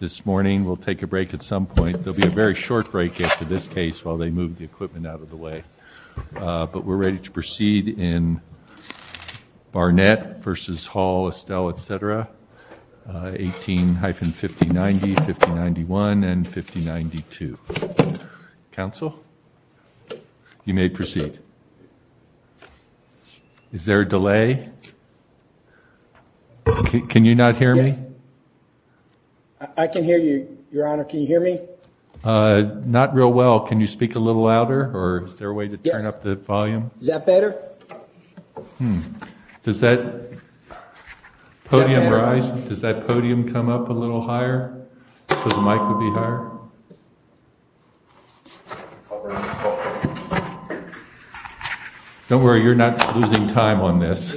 This morning we'll take a break at some point. There will be a very short break after this case while they move the equipment out of the way. But we're ready to proceed in Barnett v. Hall, Estill, etc. 18-5090, 5091, and 5092. Council, you may proceed. Is there a delay? Can you not hear me? I can hear you, Your Honor. Can you hear me? Not real well. Can you speak a little louder? Or is there a way to turn up the volume? Is that better? Does that podium rise? Does that podium come up a little higher? So the mic would be higher? Don't worry, you're not losing time on this.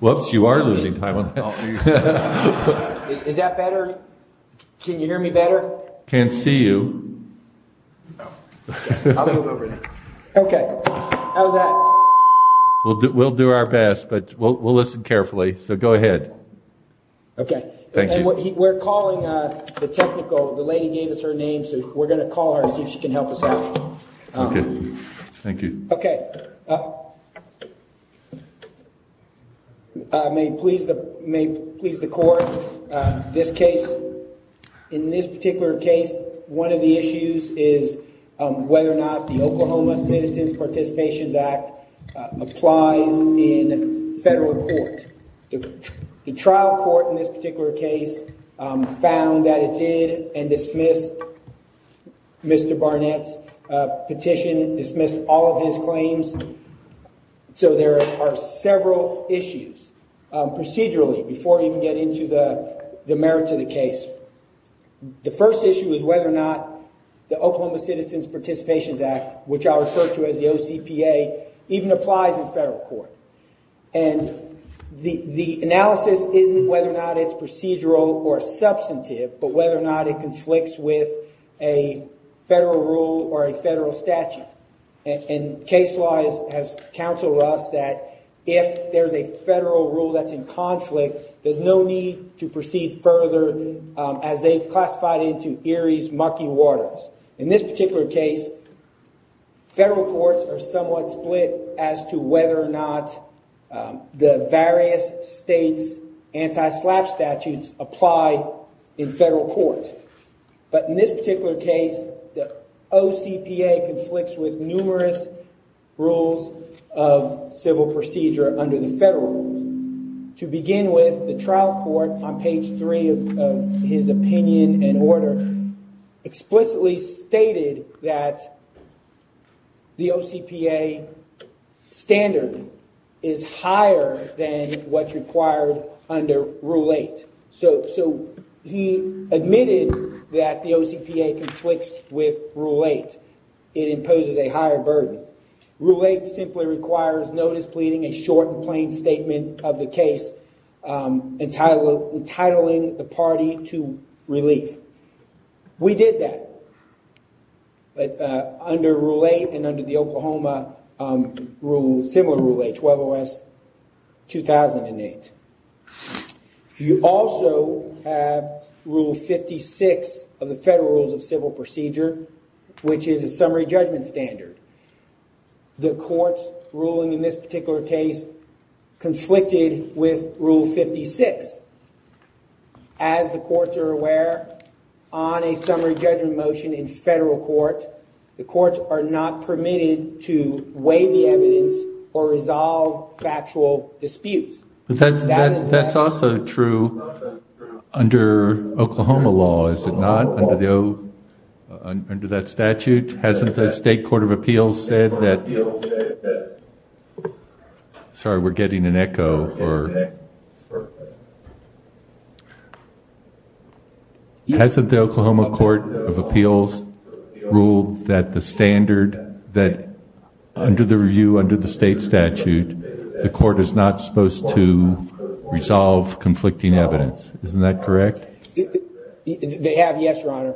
Whoops, you are losing time on that. Is that better? Can you hear me better? Can't see you. I'll move over there. Okay. How's that? We'll do our best, but we'll listen carefully. So go ahead. Okay. Thank you. We're calling the technical. The lady gave us her name, so we're going to call her and see if she can help us out. Okay. Thank you. Okay. May it please the Court, this case, in this particular case, one of the issues is whether or not the Oklahoma Citizens Participations Act applies in federal court. The trial court in this particular case found that it did and dismissed Mr. Barnett's petition, dismissed all of his claims. So there are several issues procedurally before you can get into the merits of the case. The first issue is whether or not the Oklahoma Citizens Participations Act, which I refer to as the OCPA, even applies in federal court. And the analysis isn't whether or not it's procedural or substantive, but whether or not it conflicts with a federal rule or a federal statute. And case law has counseled us that if there's a federal rule that's in conflict, there's no need to proceed further as they've classified it into Erie's mucky waters. In this particular case, federal courts are somewhat split as to whether or not the various states' anti-SLAPP statutes apply in federal court. But in this particular case, the OCPA conflicts with numerous rules of civil procedure under the federal rules. To begin with, the trial court on page 3 of his opinion and order explicitly stated that the OCPA standard is higher than what's required under Rule 8. So he admitted that the OCPA conflicts with Rule 8. It imposes a higher burden. Rule 8 simply requires notice pleading, a short and plain statement of the case, entitling the party to relief. We did that under Rule 8 and under the Oklahoma similar Rule 8, 120S-2008. You also have Rule 56 of the Federal Rules of Civil Procedure, which is a summary judgment standard. The court's ruling in this particular case conflicted with Rule 56. As the courts are aware, on a summary judgment motion in federal court, the courts are not permitted to weigh the evidence or resolve factual disputes. That's also true under Oklahoma law, is it not, under that statute? Hasn't the state court of appeals said that... Sorry, we're getting an echo. Hasn't the Oklahoma court of appeals ruled that the standard, that under the review, under the state statute, the court is not supposed to resolve conflicting evidence? Isn't that correct? They have, yes, Your Honor.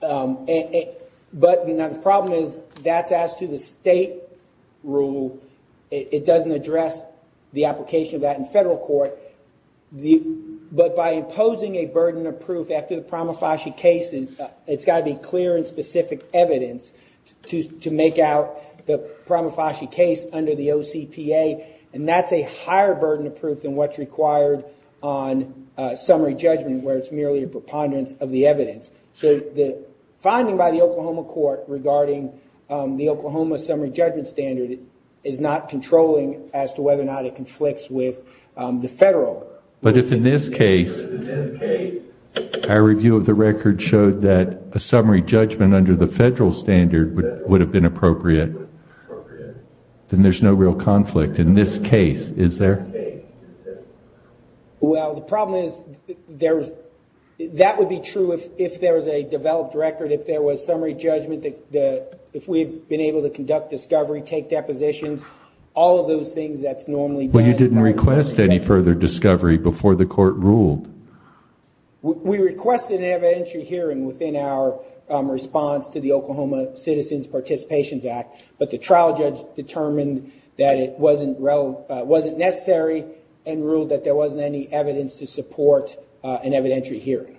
But the problem is, that's as to the state rule. It doesn't address the application of that in federal court. But by imposing a burden of proof after the Pramafashi case, it's got to be clear and specific evidence to make out the Pramafashi case under the OCPA. And that's a higher burden of proof than what's required on summary judgment, where it's merely a preponderance of the evidence. So the finding by the Oklahoma court regarding the Oklahoma summary judgment standard is not controlling as to whether or not it conflicts with the federal. But if in this case, our review of the record showed that a summary judgment under the federal standard would have been appropriate, then there's no real conflict in this case, is there? Well, the problem is, that would be true if there was a developed record, if there was summary judgment, if we had been able to conduct discovery, take depositions, all of those things that's normally done. But you didn't request any further discovery before the court ruled. We requested an evidentiary hearing within our response to the Oklahoma Citizens Participations Act. But the trial judge determined that it wasn't necessary and ruled that there wasn't any evidence to support an evidentiary hearing.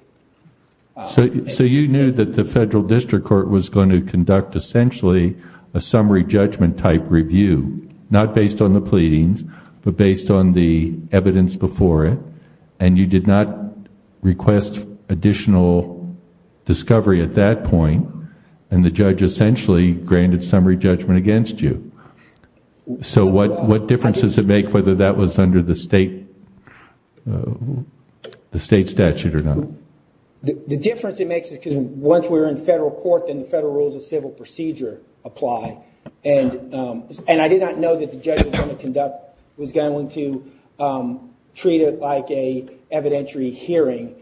So you knew that the federal district court was going to conduct essentially a summary judgment type review, not based on the pleadings, but based on the evidence before it. And you did not request additional discovery at that point. And the judge essentially granted summary judgment against you. So what difference does it make whether that was under the state statute or not? The difference it makes is because once we're in federal court, then the federal rules of civil procedure apply. And I did not know that the judge was going to treat it like an evidentiary hearing.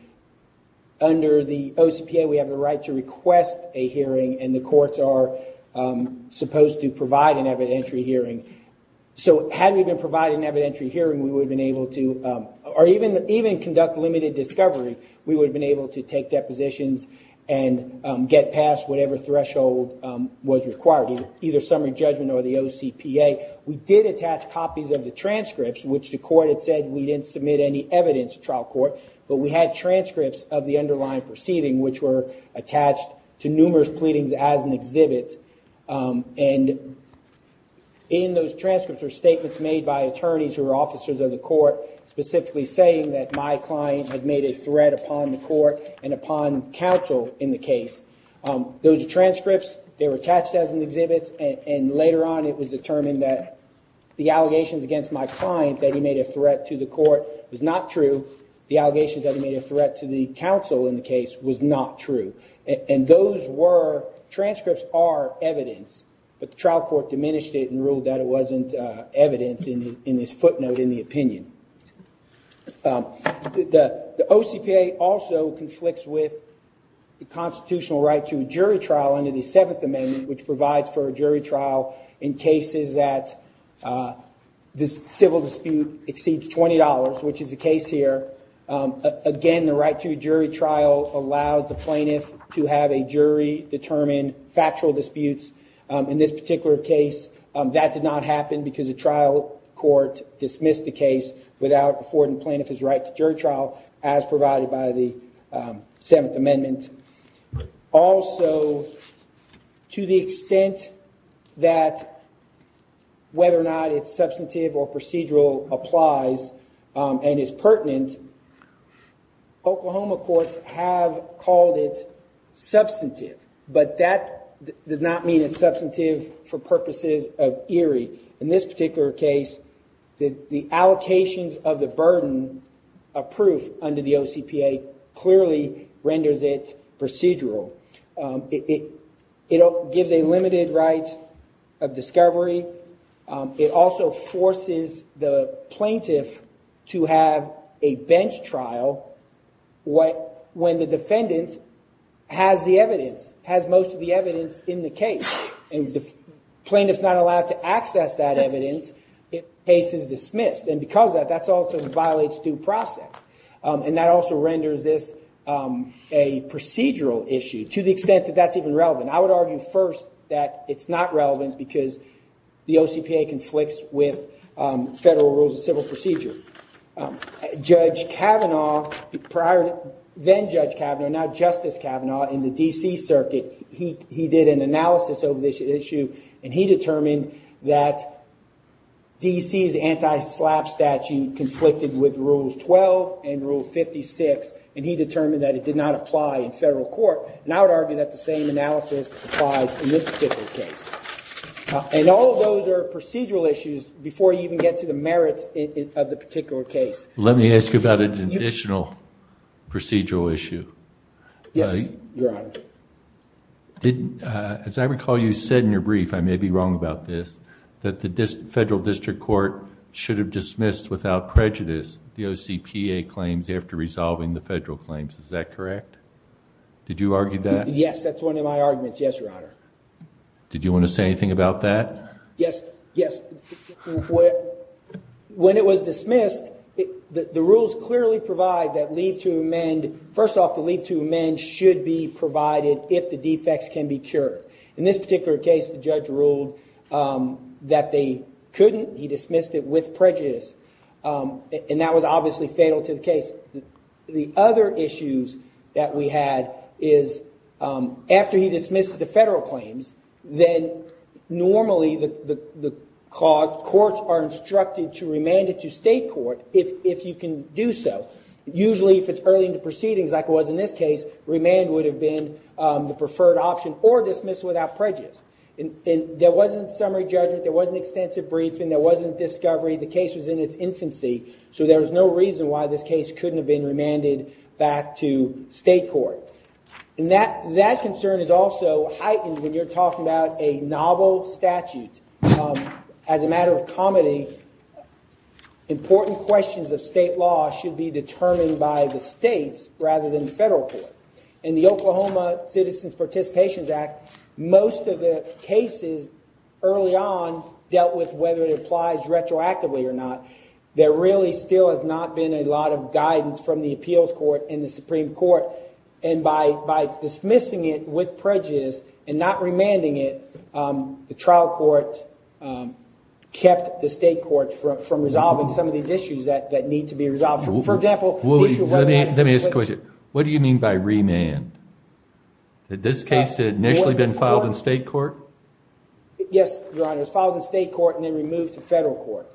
Under the OCPA, we have the right to request a hearing, and the courts are supposed to provide an evidentiary hearing. So had we been providing an evidentiary hearing, we would have been able to, or even conduct limited discovery, we would have been able to take depositions and get past whatever threshold was required, either summary judgment or the OCPA. We did attach copies of the transcripts, which the court had said we didn't submit any evidence to trial court. But we had transcripts of the underlying proceeding, which were attached to numerous pleadings as an exhibit. And in those transcripts were statements made by attorneys who were officers of the court, specifically saying that my client had made a threat upon the court and upon counsel in the case. Those transcripts, they were attached as an exhibit. And later on, it was determined that the allegations against my client, that he made a threat to the court, was not true. The allegations that he made a threat to the counsel in the case was not true. And those were, transcripts are evidence. But the trial court diminished it and ruled that it wasn't evidence in this footnote in the opinion. The OCPA also conflicts with the constitutional right to a jury trial under the Seventh Amendment, which provides for a jury trial in cases that the civil dispute exceeds $20, which is the case here. Again, the right to a jury trial allows the plaintiff to have a jury determine factual disputes. In this particular case, that did not happen because the trial court dismissed the case without affording plaintiff his right to jury trial, as provided by the Seventh Amendment. Also, to the extent that whether or not it's substantive or procedural applies and is pertinent, Oklahoma courts have called it substantive, but that does not mean it's substantive for purposes of eerie. In this particular case, the allocations of the burden of proof under the OCPA clearly renders it procedural. It gives a limited right of discovery. It also forces the plaintiff to have a bench trial when the defendant has the evidence, has most of the evidence in the case. And the plaintiff's not allowed to access that evidence if the case is dismissed. And because of that, that also violates due process. And that also renders this a procedural issue to the extent that that's even relevant. I would argue first that it's not relevant because the OCPA conflicts with federal rules of civil procedure. Judge Kavanaugh, then Judge Kavanaugh, now Justice Kavanaugh, in the D.C. Circuit, he did an analysis of this issue, and he determined that D.C.'s anti-SLAPP statute conflicted with Rules 12 and Rule 56, and he determined that it did not apply in federal court. And I would argue that the same analysis applies in this particular case. And all of those are procedural issues before you even get to the merits of the particular case. Let me ask you about an additional procedural issue. Yes, Your Honor. As I recall, you said in your brief, I may be wrong about this, that the federal district court should have dismissed without prejudice the OCPA claims after resolving the federal claims. Is that correct? Did you argue that? Yes, that's one of my arguments. Yes, Your Honor. Did you want to say anything about that? Yes, yes. When it was dismissed, the rules clearly provide that leave to amend, first off, the leave to amend should be provided if the defects can be cured. In this particular case, the judge ruled that they couldn't. He dismissed it with prejudice. And that was obviously fatal to the case. The other issues that we had is after he dismisses the federal claims, then normally the courts are instructed to remand it to state court if you can do so. Usually, if it's early in the proceedings like it was in this case, remand would have been the preferred option or dismissed without prejudice. There wasn't summary judgment. There wasn't extensive briefing. There wasn't discovery. The case was in its infancy. So there was no reason why this case couldn't have been remanded back to state court. And that concern is also heightened when you're talking about a novel statute. As a matter of comedy, important questions of state law should be determined by the states rather than the federal court. In the Oklahoma Citizens Participations Act, most of the cases early on dealt with whether it applies retroactively or not. There really still has not been a lot of guidance from the appeals court and the Supreme Court. And by dismissing it with prejudice and not remanding it, the trial court kept the state court from resolving some of these issues that need to be resolved. For example, the issue of remand. Let me ask a question. What do you mean by remand? Had this case initially been filed in state court? Yes, Your Honor. It was filed in state court and then removed to federal court.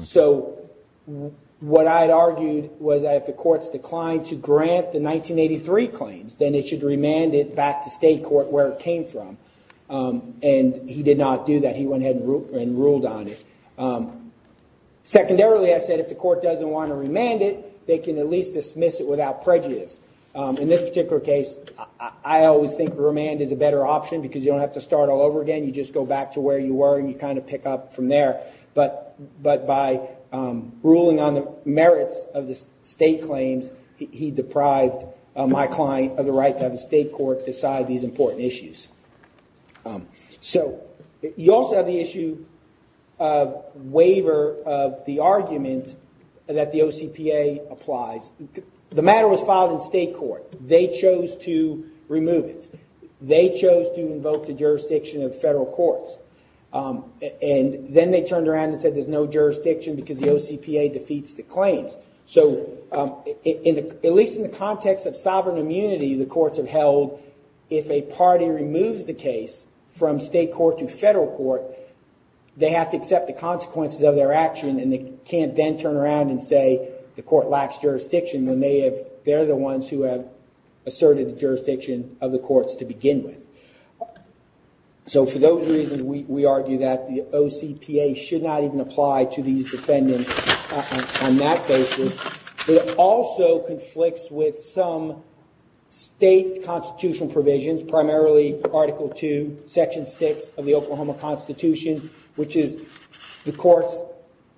So what I had argued was that if the court's declined to grant the 1983 claims, then it should remand it back to state court where it came from. And he did not do that. He went ahead and ruled on it. Secondarily, I said if the court doesn't want to remand it, they can at least dismiss it without prejudice. In this particular case, I always think remand is a better option because you don't have to start all over again. You just go back to where you were and you kind of pick up from there. But by ruling on the merits of the state claims, he deprived my client of the right to have the state court decide these important issues. So you also have the issue of waiver of the argument that the OCPA applies. The matter was filed in state court. They chose to remove it. They chose to invoke the jurisdiction of federal courts. And then they turned around and said there's no jurisdiction because the OCPA defeats the claims. So at least in the context of sovereign immunity, the courts have held if a party removes the case from state court to federal court, they have to accept the consequences of their action and they can't then turn around and say the court lacks jurisdiction when they're the ones who have asserted the jurisdiction of the courts to begin with. So for those reasons, we argue that the OCPA should not even apply to these defendants on that basis. It also conflicts with some state constitutional provisions, primarily Article 2, Section 6 of the Oklahoma Constitution, which is the courts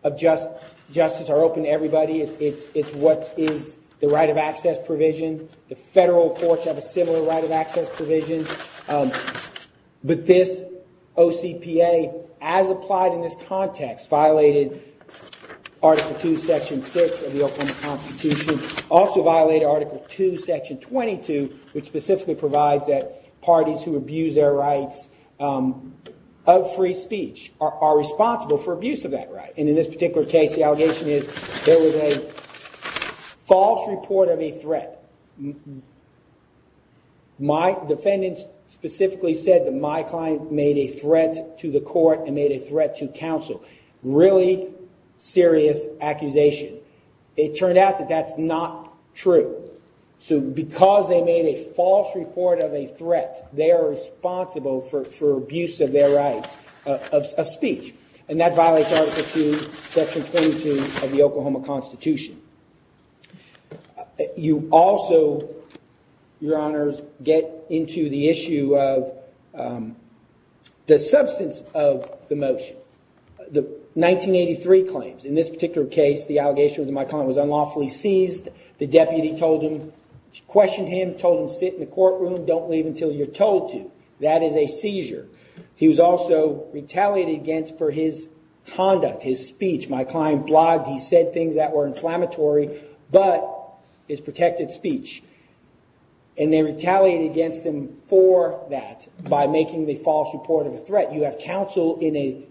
of justice are open to everybody. It's what is the right of access provision. The federal courts have a similar right of access provision. But this OCPA, as applied in this context, violated Article 2, Section 6 of the Oklahoma Constitution, also violated Article 2, Section 22, which specifically provides that parties who abuse their rights of free speech are responsible for abuse of that right. And in this particular case, the allegation is there was a false report of a threat. My defendant specifically said that my client made a threat to the court and made a threat to counsel. Really serious accusation. It turned out that that's not true. So because they made a false report of a threat, they are responsible for abuse of their rights of speech. And that violates Article 2, Section 22 of the Oklahoma Constitution. You also, Your Honors, get into the issue of the substance of the motion. The 1983 claims, in this particular case, the allegation was that my client was unlawfully seized. The deputy questioned him, told him, sit in the courtroom. Don't leave until you're told to. That is a seizure. He was also retaliated against for his conduct, his speech. My client blogged. He said things that were inflammatory, but it's protected speech. And they retaliated against him for that by making the false report of a threat. You have counsel in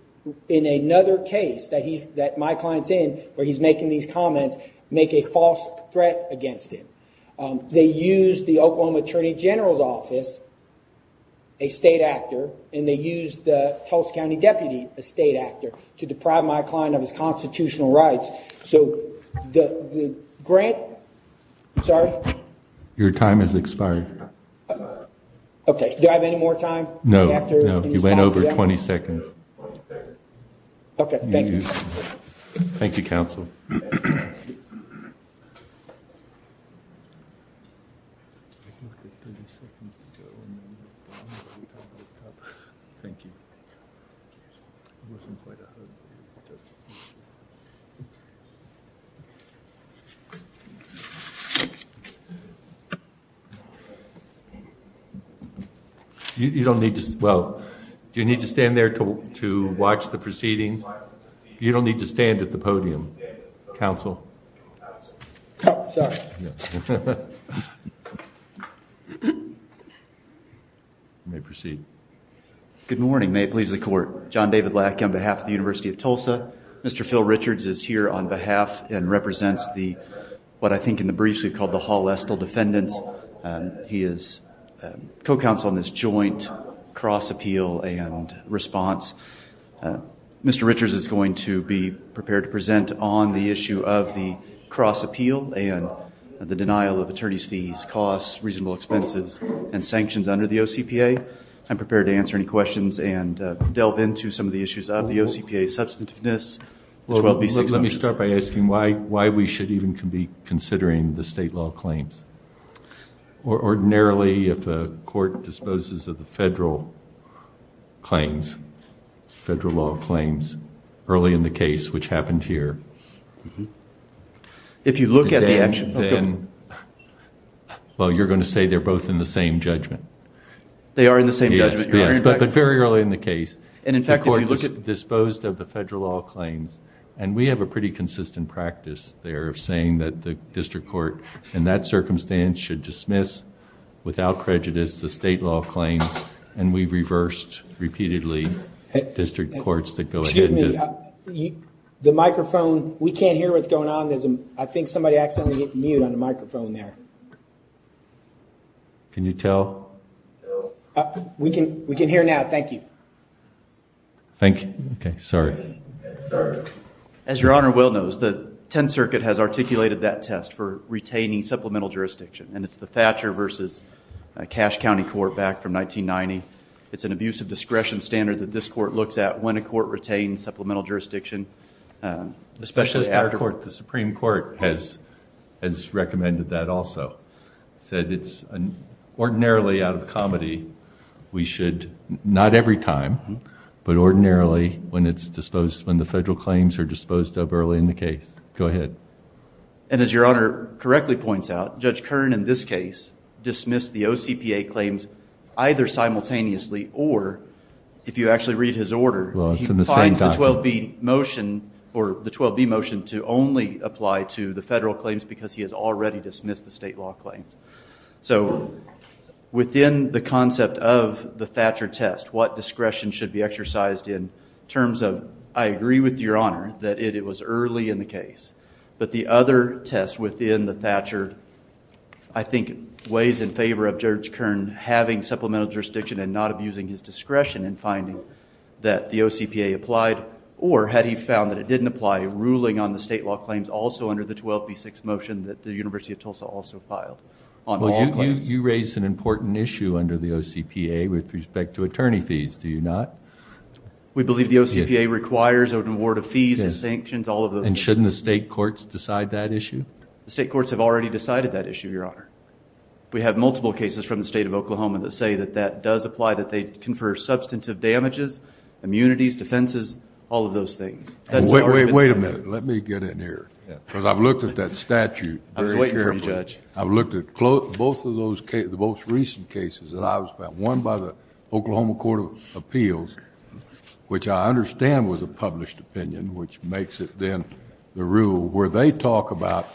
another case that my client's in where he's making these comments make a false threat against him. They used the Oklahoma Attorney General's Office, a state actor, and they used the Tulsa County Deputy, a state actor, to deprive my client of his constitutional rights. So the grant, sorry? Your time has expired. Okay. Do I have any more time? No, you went over 20 seconds. Okay, thank you. Thank you, counsel. Thank you. You don't need to, well, do you need to stand there to watch the proceedings? You don't need to stand at the podium, counsel. Oh, sorry. You may proceed. Good morning. May it please the court. John David Lackey on behalf of the University of Tulsa. Mr. Phil Richards is here on behalf and represents the, what I think in the briefs we've called the Hall-Lestle defendants. He is co-counsel in this joint cross-appeal and response. Mr. Richards is going to be prepared to present on the issue of the cross-appeal and the denial of attorney's fees, costs, reasonable expenses, and sanctions under the OCPA. I'm prepared to answer any questions and delve into some of the issues of the OCPA's substantiveness. Let me start by asking why we should even be considering the state law claims. Ordinarily, if a court disposes of the federal claims, federal law claims, early in the case, which happened here. If you look at the action of the... Well, you're going to say they're both in the same judgment. They are in the same judgment. Yes, but very early in the case. And, in fact, if you look at... The court disposed of the federal law claims, and we have a pretty consistent practice there of saying that the district court, in that circumstance, should dismiss, without prejudice, the state law claims. And we've reversed, repeatedly, district courts that go ahead... Excuse me. The microphone... We can't hear what's going on. I think somebody accidentally hit mute on the microphone there. Can you tell? We can hear now. Thank you. Thank you. Okay, sorry. As Your Honor well knows, the Tenth Circuit has articulated that test for retaining supplemental jurisdiction, and it's the Thatcher v. Cash County Court, back from 1990. It's an abuse of discretion standard that this court looks at when a court retains supplemental jurisdiction, especially after... The Supreme Court has recommended that also. It said it's ordinarily, out of comedy, we should... Not every time, but ordinarily, when it's disposed... When the federal claims are disposed of early in the case. Go ahead. And, as Your Honor correctly points out, Judge Kern, in this case, dismissed the OCPA claims either simultaneously or, if you actually read his order... Well, it's in the same document. He finds the 12B motion, or the 12B motion, to only apply to the federal claims because he has already dismissed the state law claims. So, within the concept of the Thatcher test, what discretion should be exercised in terms of... I agree with Your Honor that it was early in the case. But the other test within the Thatcher, I think, weighs in favor of Judge Kern having supplemental jurisdiction and not abusing his discretion in finding that the OCPA applied. Or, had he found that it didn't apply, ruling on the state law claims also under the 12B6 motion that the University of Tulsa also filed on all claims. Well, you raised an important issue under the OCPA with respect to attorney fees, do you not? We believe the OCPA requires an award of fees and sanctions, all of those things. And, shouldn't the state courts decide that issue? The state courts have already decided that issue, Your Honor. We have multiple cases from the state of Oklahoma that say that that does apply, that they confer substantive damages, immunities, defenses, all of those things. Wait a minute. Let me get in here. Because I've looked at that statute very carefully. I was waiting for you, Judge. I've looked at both of those cases, the most recent cases that I've found, one by the Oklahoma Court of Appeals, which I understand was a published opinion, which makes it then the rule where they talk about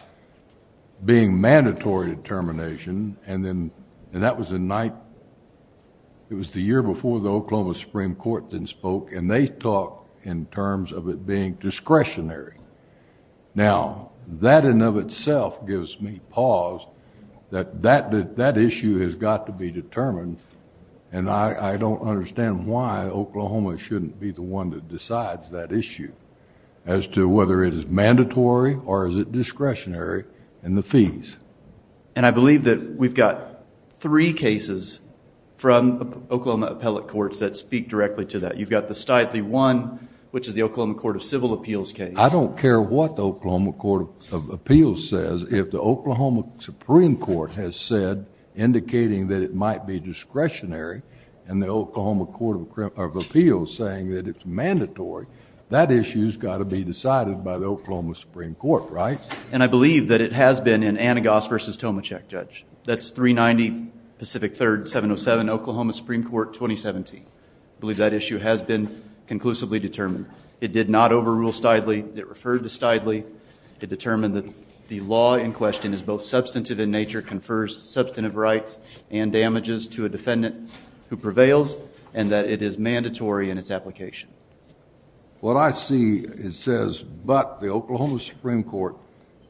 being mandatory determination, and that was the night, it was the year before the Oklahoma Supreme Court then spoke, and they talk in terms of it being discretionary. Now, that in and of itself gives me pause that that issue has got to be determined, and I don't understand why Oklahoma shouldn't be the one that decides that issue as to whether it is mandatory or is it discretionary in the fees. And I believe that we've got three cases from Oklahoma appellate courts that speak directly to that. You've got the Stithley one, which is the Oklahoma Court of Civil Appeals case. I don't care what the Oklahoma Court of Appeals says. If the Oklahoma Supreme Court has said, indicating that it might be discretionary, and the Oklahoma Court of Appeals saying that it's mandatory, that issue's got to be decided by the Oklahoma Supreme Court, right? And I believe that it has been in Anagos v. Tomachek, Judge. That's 390 Pacific 3rd, 707 Oklahoma Supreme Court, 2017. I believe that issue has been conclusively determined. It did not overrule Stithley. It referred to Stithley. It determined that the law in question is both substantive in nature, confers substantive rights and damages to a defendant who prevails, and that it is mandatory in its application. What I see, it says, but the Oklahoma Supreme Court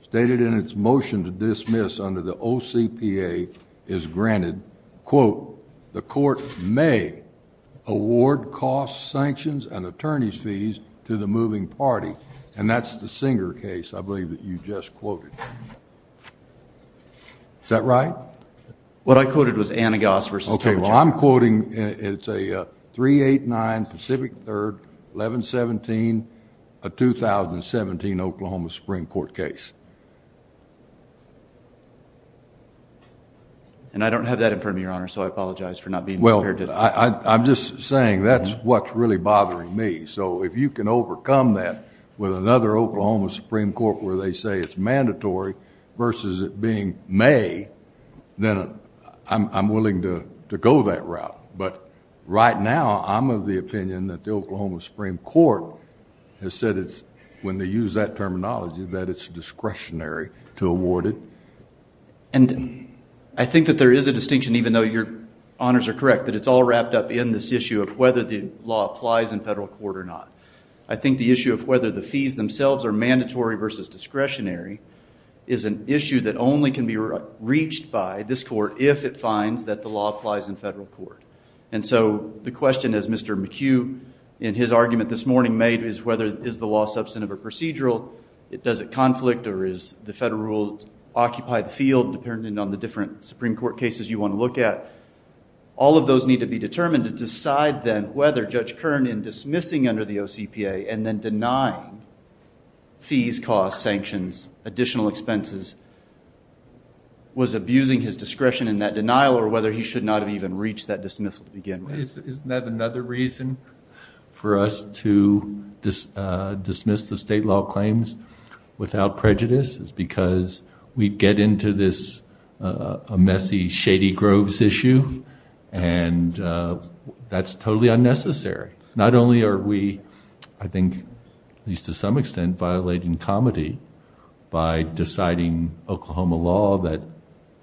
stated in its motion to dismiss under the OCPA is granted, quote, the court may award costs, sanctions, and attorney's fees to the moving party. And that's the Singer case, I believe, that you just quoted. Is that right? What I quoted was Anagos v. Tomachek. Well, I'm quoting, it's a 389 Pacific 3rd, 1117, a 2017 Oklahoma Supreme Court case. And I don't have that in front of me, Your Honor, so I apologize for not being prepared. Well, I'm just saying that's what's really bothering me. So if you can overcome that with another Oklahoma Supreme Court where they say it's mandatory versus it being may, then I'm willing to go that route. But right now, I'm of the opinion that the Oklahoma Supreme Court has said it's, when they use that terminology, that it's discretionary to award it. And I think that there is a distinction, even though your honors are correct, that it's all wrapped up in this issue of whether the law applies in federal court or not. I think the issue of whether the fees themselves are mandatory versus discretionary is an issue that only can be reached by this court if it finds that the law applies in federal court. And so the question, as Mr. McHugh in his argument this morning made, is whether is the law substantive or procedural? Does it conflict, or does the federal rule occupy the field, depending on the different Supreme Court cases you want to look at? All of those need to be determined to decide then whether Judge Kern, in dismissing under the OCPA and then denying fees, costs, sanctions, additional expenses, was abusing his discretion in that denial or whether he should not have even reached that dismissal to begin with. Isn't that another reason for us to dismiss the state law claims without prejudice is because we get into this messy, shady groves issue, and that's totally unnecessary. Not only are we, I think, at least to some extent, violating comity by deciding Oklahoma law that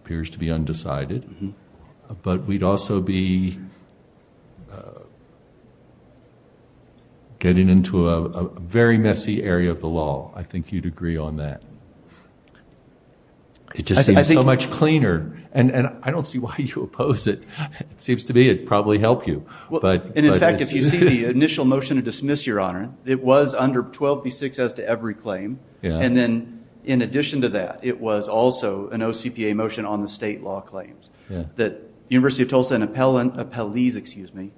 appears to be undecided, but we'd also be getting into a very messy area of the law. I think you'd agree on that. It just seems so much cleaner. And I don't see why you oppose it. It seems to me it'd probably help you. In fact, if you see the initial motion to dismiss, Your Honor, it was under 12B6 as to every claim. And then in addition to that, it was also an OCPA motion on the state law claims that University of Tulsa and appellees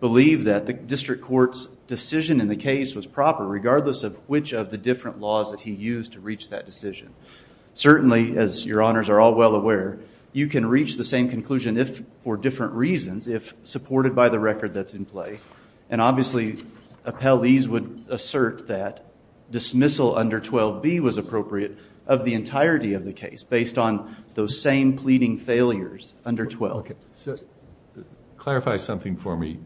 believe that the district court's decision in the case was proper regardless of which of the different laws that he used to reach that decision. Certainly, as Your Honors are all well aware, you can reach the same conclusion for different reasons if supported by the record that's in play. And obviously, appellees would assert that dismissal under 12B was appropriate of the entirety of the case based on those same pleading failures under 12. Clarify something for me.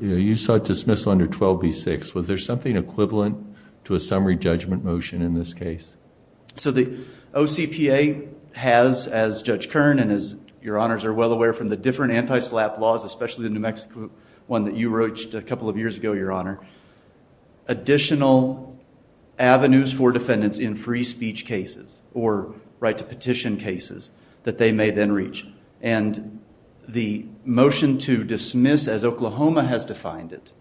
You sought dismissal under 12B6. Was there something equivalent to a summary judgment motion in this case? So the OCPA has, as Judge Kern and as Your Honors are well aware, from the different anti-SLAPP laws, especially the New Mexico one that you reached a couple of years ago, Your Honor, additional avenues for defendants in free speech cases or right to petition cases that they may then reach. And the motion to dismiss, as Oklahoma has defined it,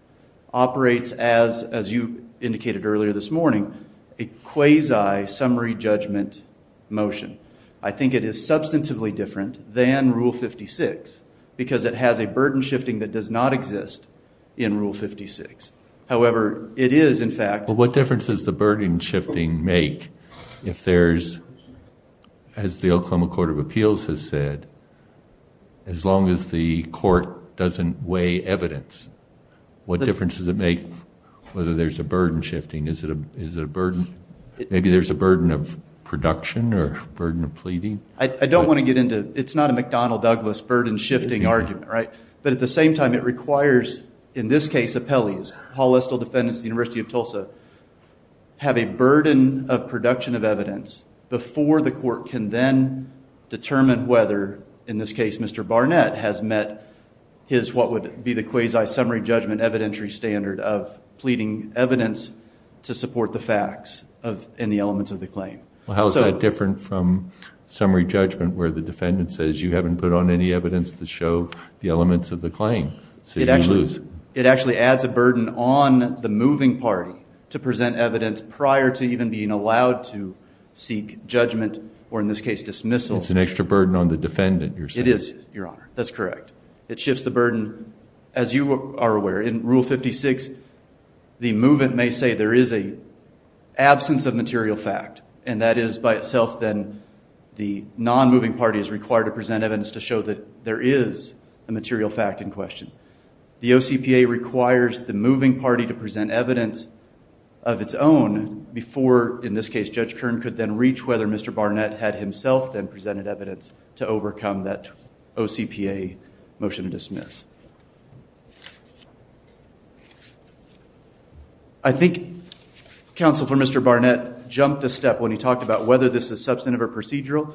operates as, as you indicated earlier this morning, a quasi-summary judgment motion. I think it is substantively different than Rule 56 because it has a burden shifting that does not exist in Rule 56. However, it is, in fact... If there's, as the Oklahoma Court of Appeals has said, as long as the court doesn't weigh evidence, what difference does it make whether there's a burden shifting? Is it a burden? Maybe there's a burden of production or a burden of pleading? I don't want to get into... It's not a McDonnell-Douglas burden shifting argument, right? But at the same time, it requires, in this case, appellees, the University of Tulsa, have a burden of production of evidence before the court can then determine whether, in this case, Mr. Barnett has met his, what would be the quasi-summary judgment evidentiary standard of pleading evidence to support the facts and the elements of the claim. Well, how is that different from summary judgment where the defendant says, you haven't put on any evidence to show the elements of the claim, so you lose? It actually adds a burden on the moving party to present evidence prior to even being allowed to seek judgment or, in this case, dismissal. It's an extra burden on the defendant, you're saying? It is, Your Honor. That's correct. It shifts the burden, as you are aware, in Rule 56, the movant may say there is an absence of material fact, and that is by itself then the non-moving party is required to present evidence to show that there is a material fact in question. The OCPA requires the moving party to present evidence of its own before, in this case, Judge Kern could then reach whether Mr. Barnett had himself then presented evidence to overcome that OCPA motion to dismiss. I think counsel for Mr. Barnett jumped a step when he talked about whether this is substantive or procedural.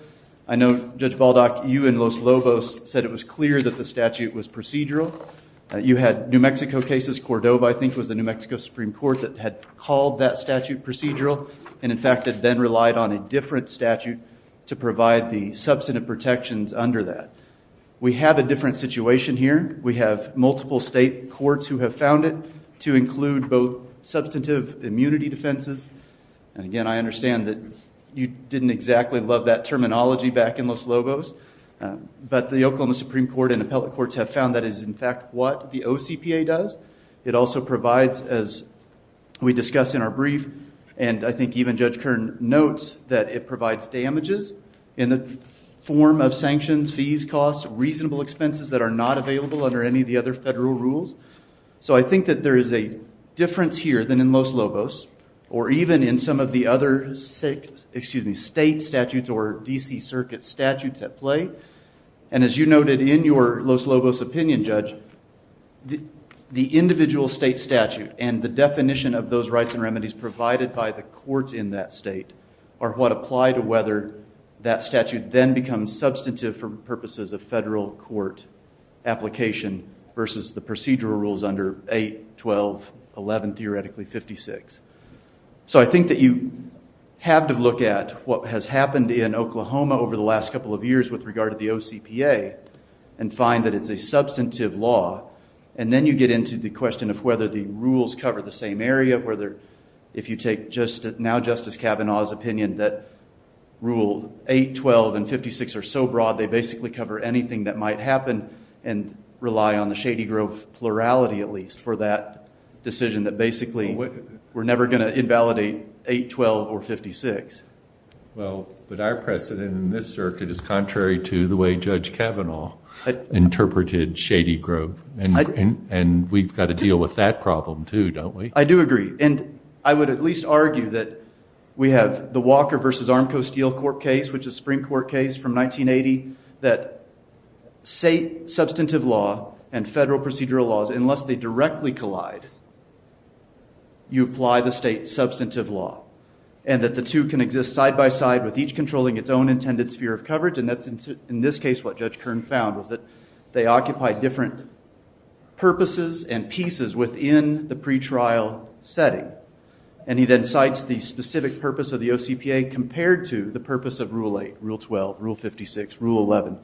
I know, Judge Baldock, you and Los Lobos said it was clear that the statute was procedural. You had New Mexico cases, Cordova I think was the New Mexico Supreme Court that had called that statute procedural, and in fact had then relied on a different statute to provide the substantive protections under that. We have a different situation here. We have multiple state courts who have found it to include both substantive immunity defenses, and again, I understand that you didn't exactly love that terminology back in Los Lobos, but the Oklahoma Supreme Court and appellate courts have found that is in fact what the OCPA does. It also provides, as we discussed in our brief, and I think even Judge Kern notes that it provides damages in the form of sanctions, fees, costs, reasonable expenses that are not available under any of the other federal rules. So I think that there is a difference here than in Los Lobos or even in some of the other state statutes or D.C. Circuit statutes at play, and as you noted in your Los Lobos opinion, Judge, the individual state statute and the definition of those rights and remedies provided by the courts in that state are what apply to whether that statute then becomes substantive for purposes of federal court application versus the procedural rules under 8, 12, 11, theoretically 56. So I think that you have to look at what has happened in Oklahoma over the last couple of years with regard to the OCPA and find that it's a substantive law, and then you get into the question of whether the rules cover the same area, whether if you take now Justice Kavanaugh's opinion that Rule 8, 12, and 56 are so broad they basically cover anything that might happen and rely on the Shady Grove plurality at least for that decision that basically we're never going to invalidate 8, 12, or 56. Well, but our precedent in this circuit is contrary to the way Judge Kavanaugh interpreted Shady Grove, and we've got to deal with that problem too, don't we? I do agree, and I would at least argue that we have the Walker v. Armco Steel Court case, which is a Supreme Court case from 1980, that state substantive law and federal procedural laws, unless they directly collide, you apply the state substantive law, and that the two can exist side by side with each controlling its own intended sphere of coverage, and that's in this case what Judge Kern found was that they occupy different purposes and pieces within the pretrial setting, and he then cites the specific purpose of the OCPA compared to the purpose of Rule 8, Rule 12, Rule 56, Rule 11,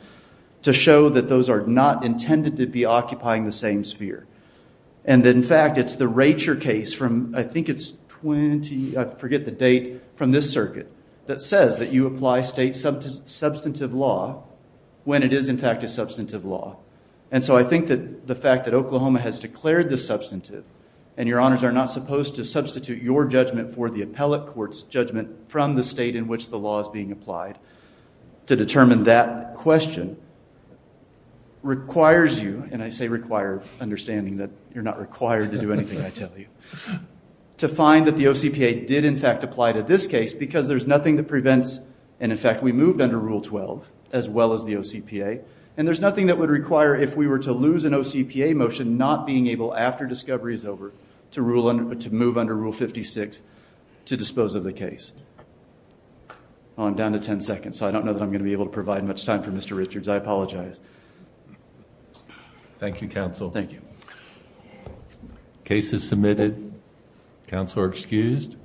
to show that those are not intended to be occupying the same sphere, and that in fact it's the Racher case from, I think it's 20, I forget the date, from this circuit, that says that you apply state substantive law when it is in fact a substantive law, and so I think that the fact that Oklahoma has declared this substantive, and your honors are not supposed to substitute your judgment for the appellate court's judgment from the state in which the law is being applied to determine that question, requires you, and I say require understanding that you're not required to do anything I tell you, to find that the OCPA did in fact apply to this case because there's nothing that prevents, and in fact we moved under Rule 12 as well as the OCPA, and there's nothing that would require if we were to lose an OCPA motion, not being able after discovery is over to move under Rule 56 to dispose of the case. I'm down to 10 seconds, so I don't know that I'm going to be able to provide much time for Mr. Richards. I apologize. Thank you, counsel. Thank you. Case is submitted. Counsel are excused.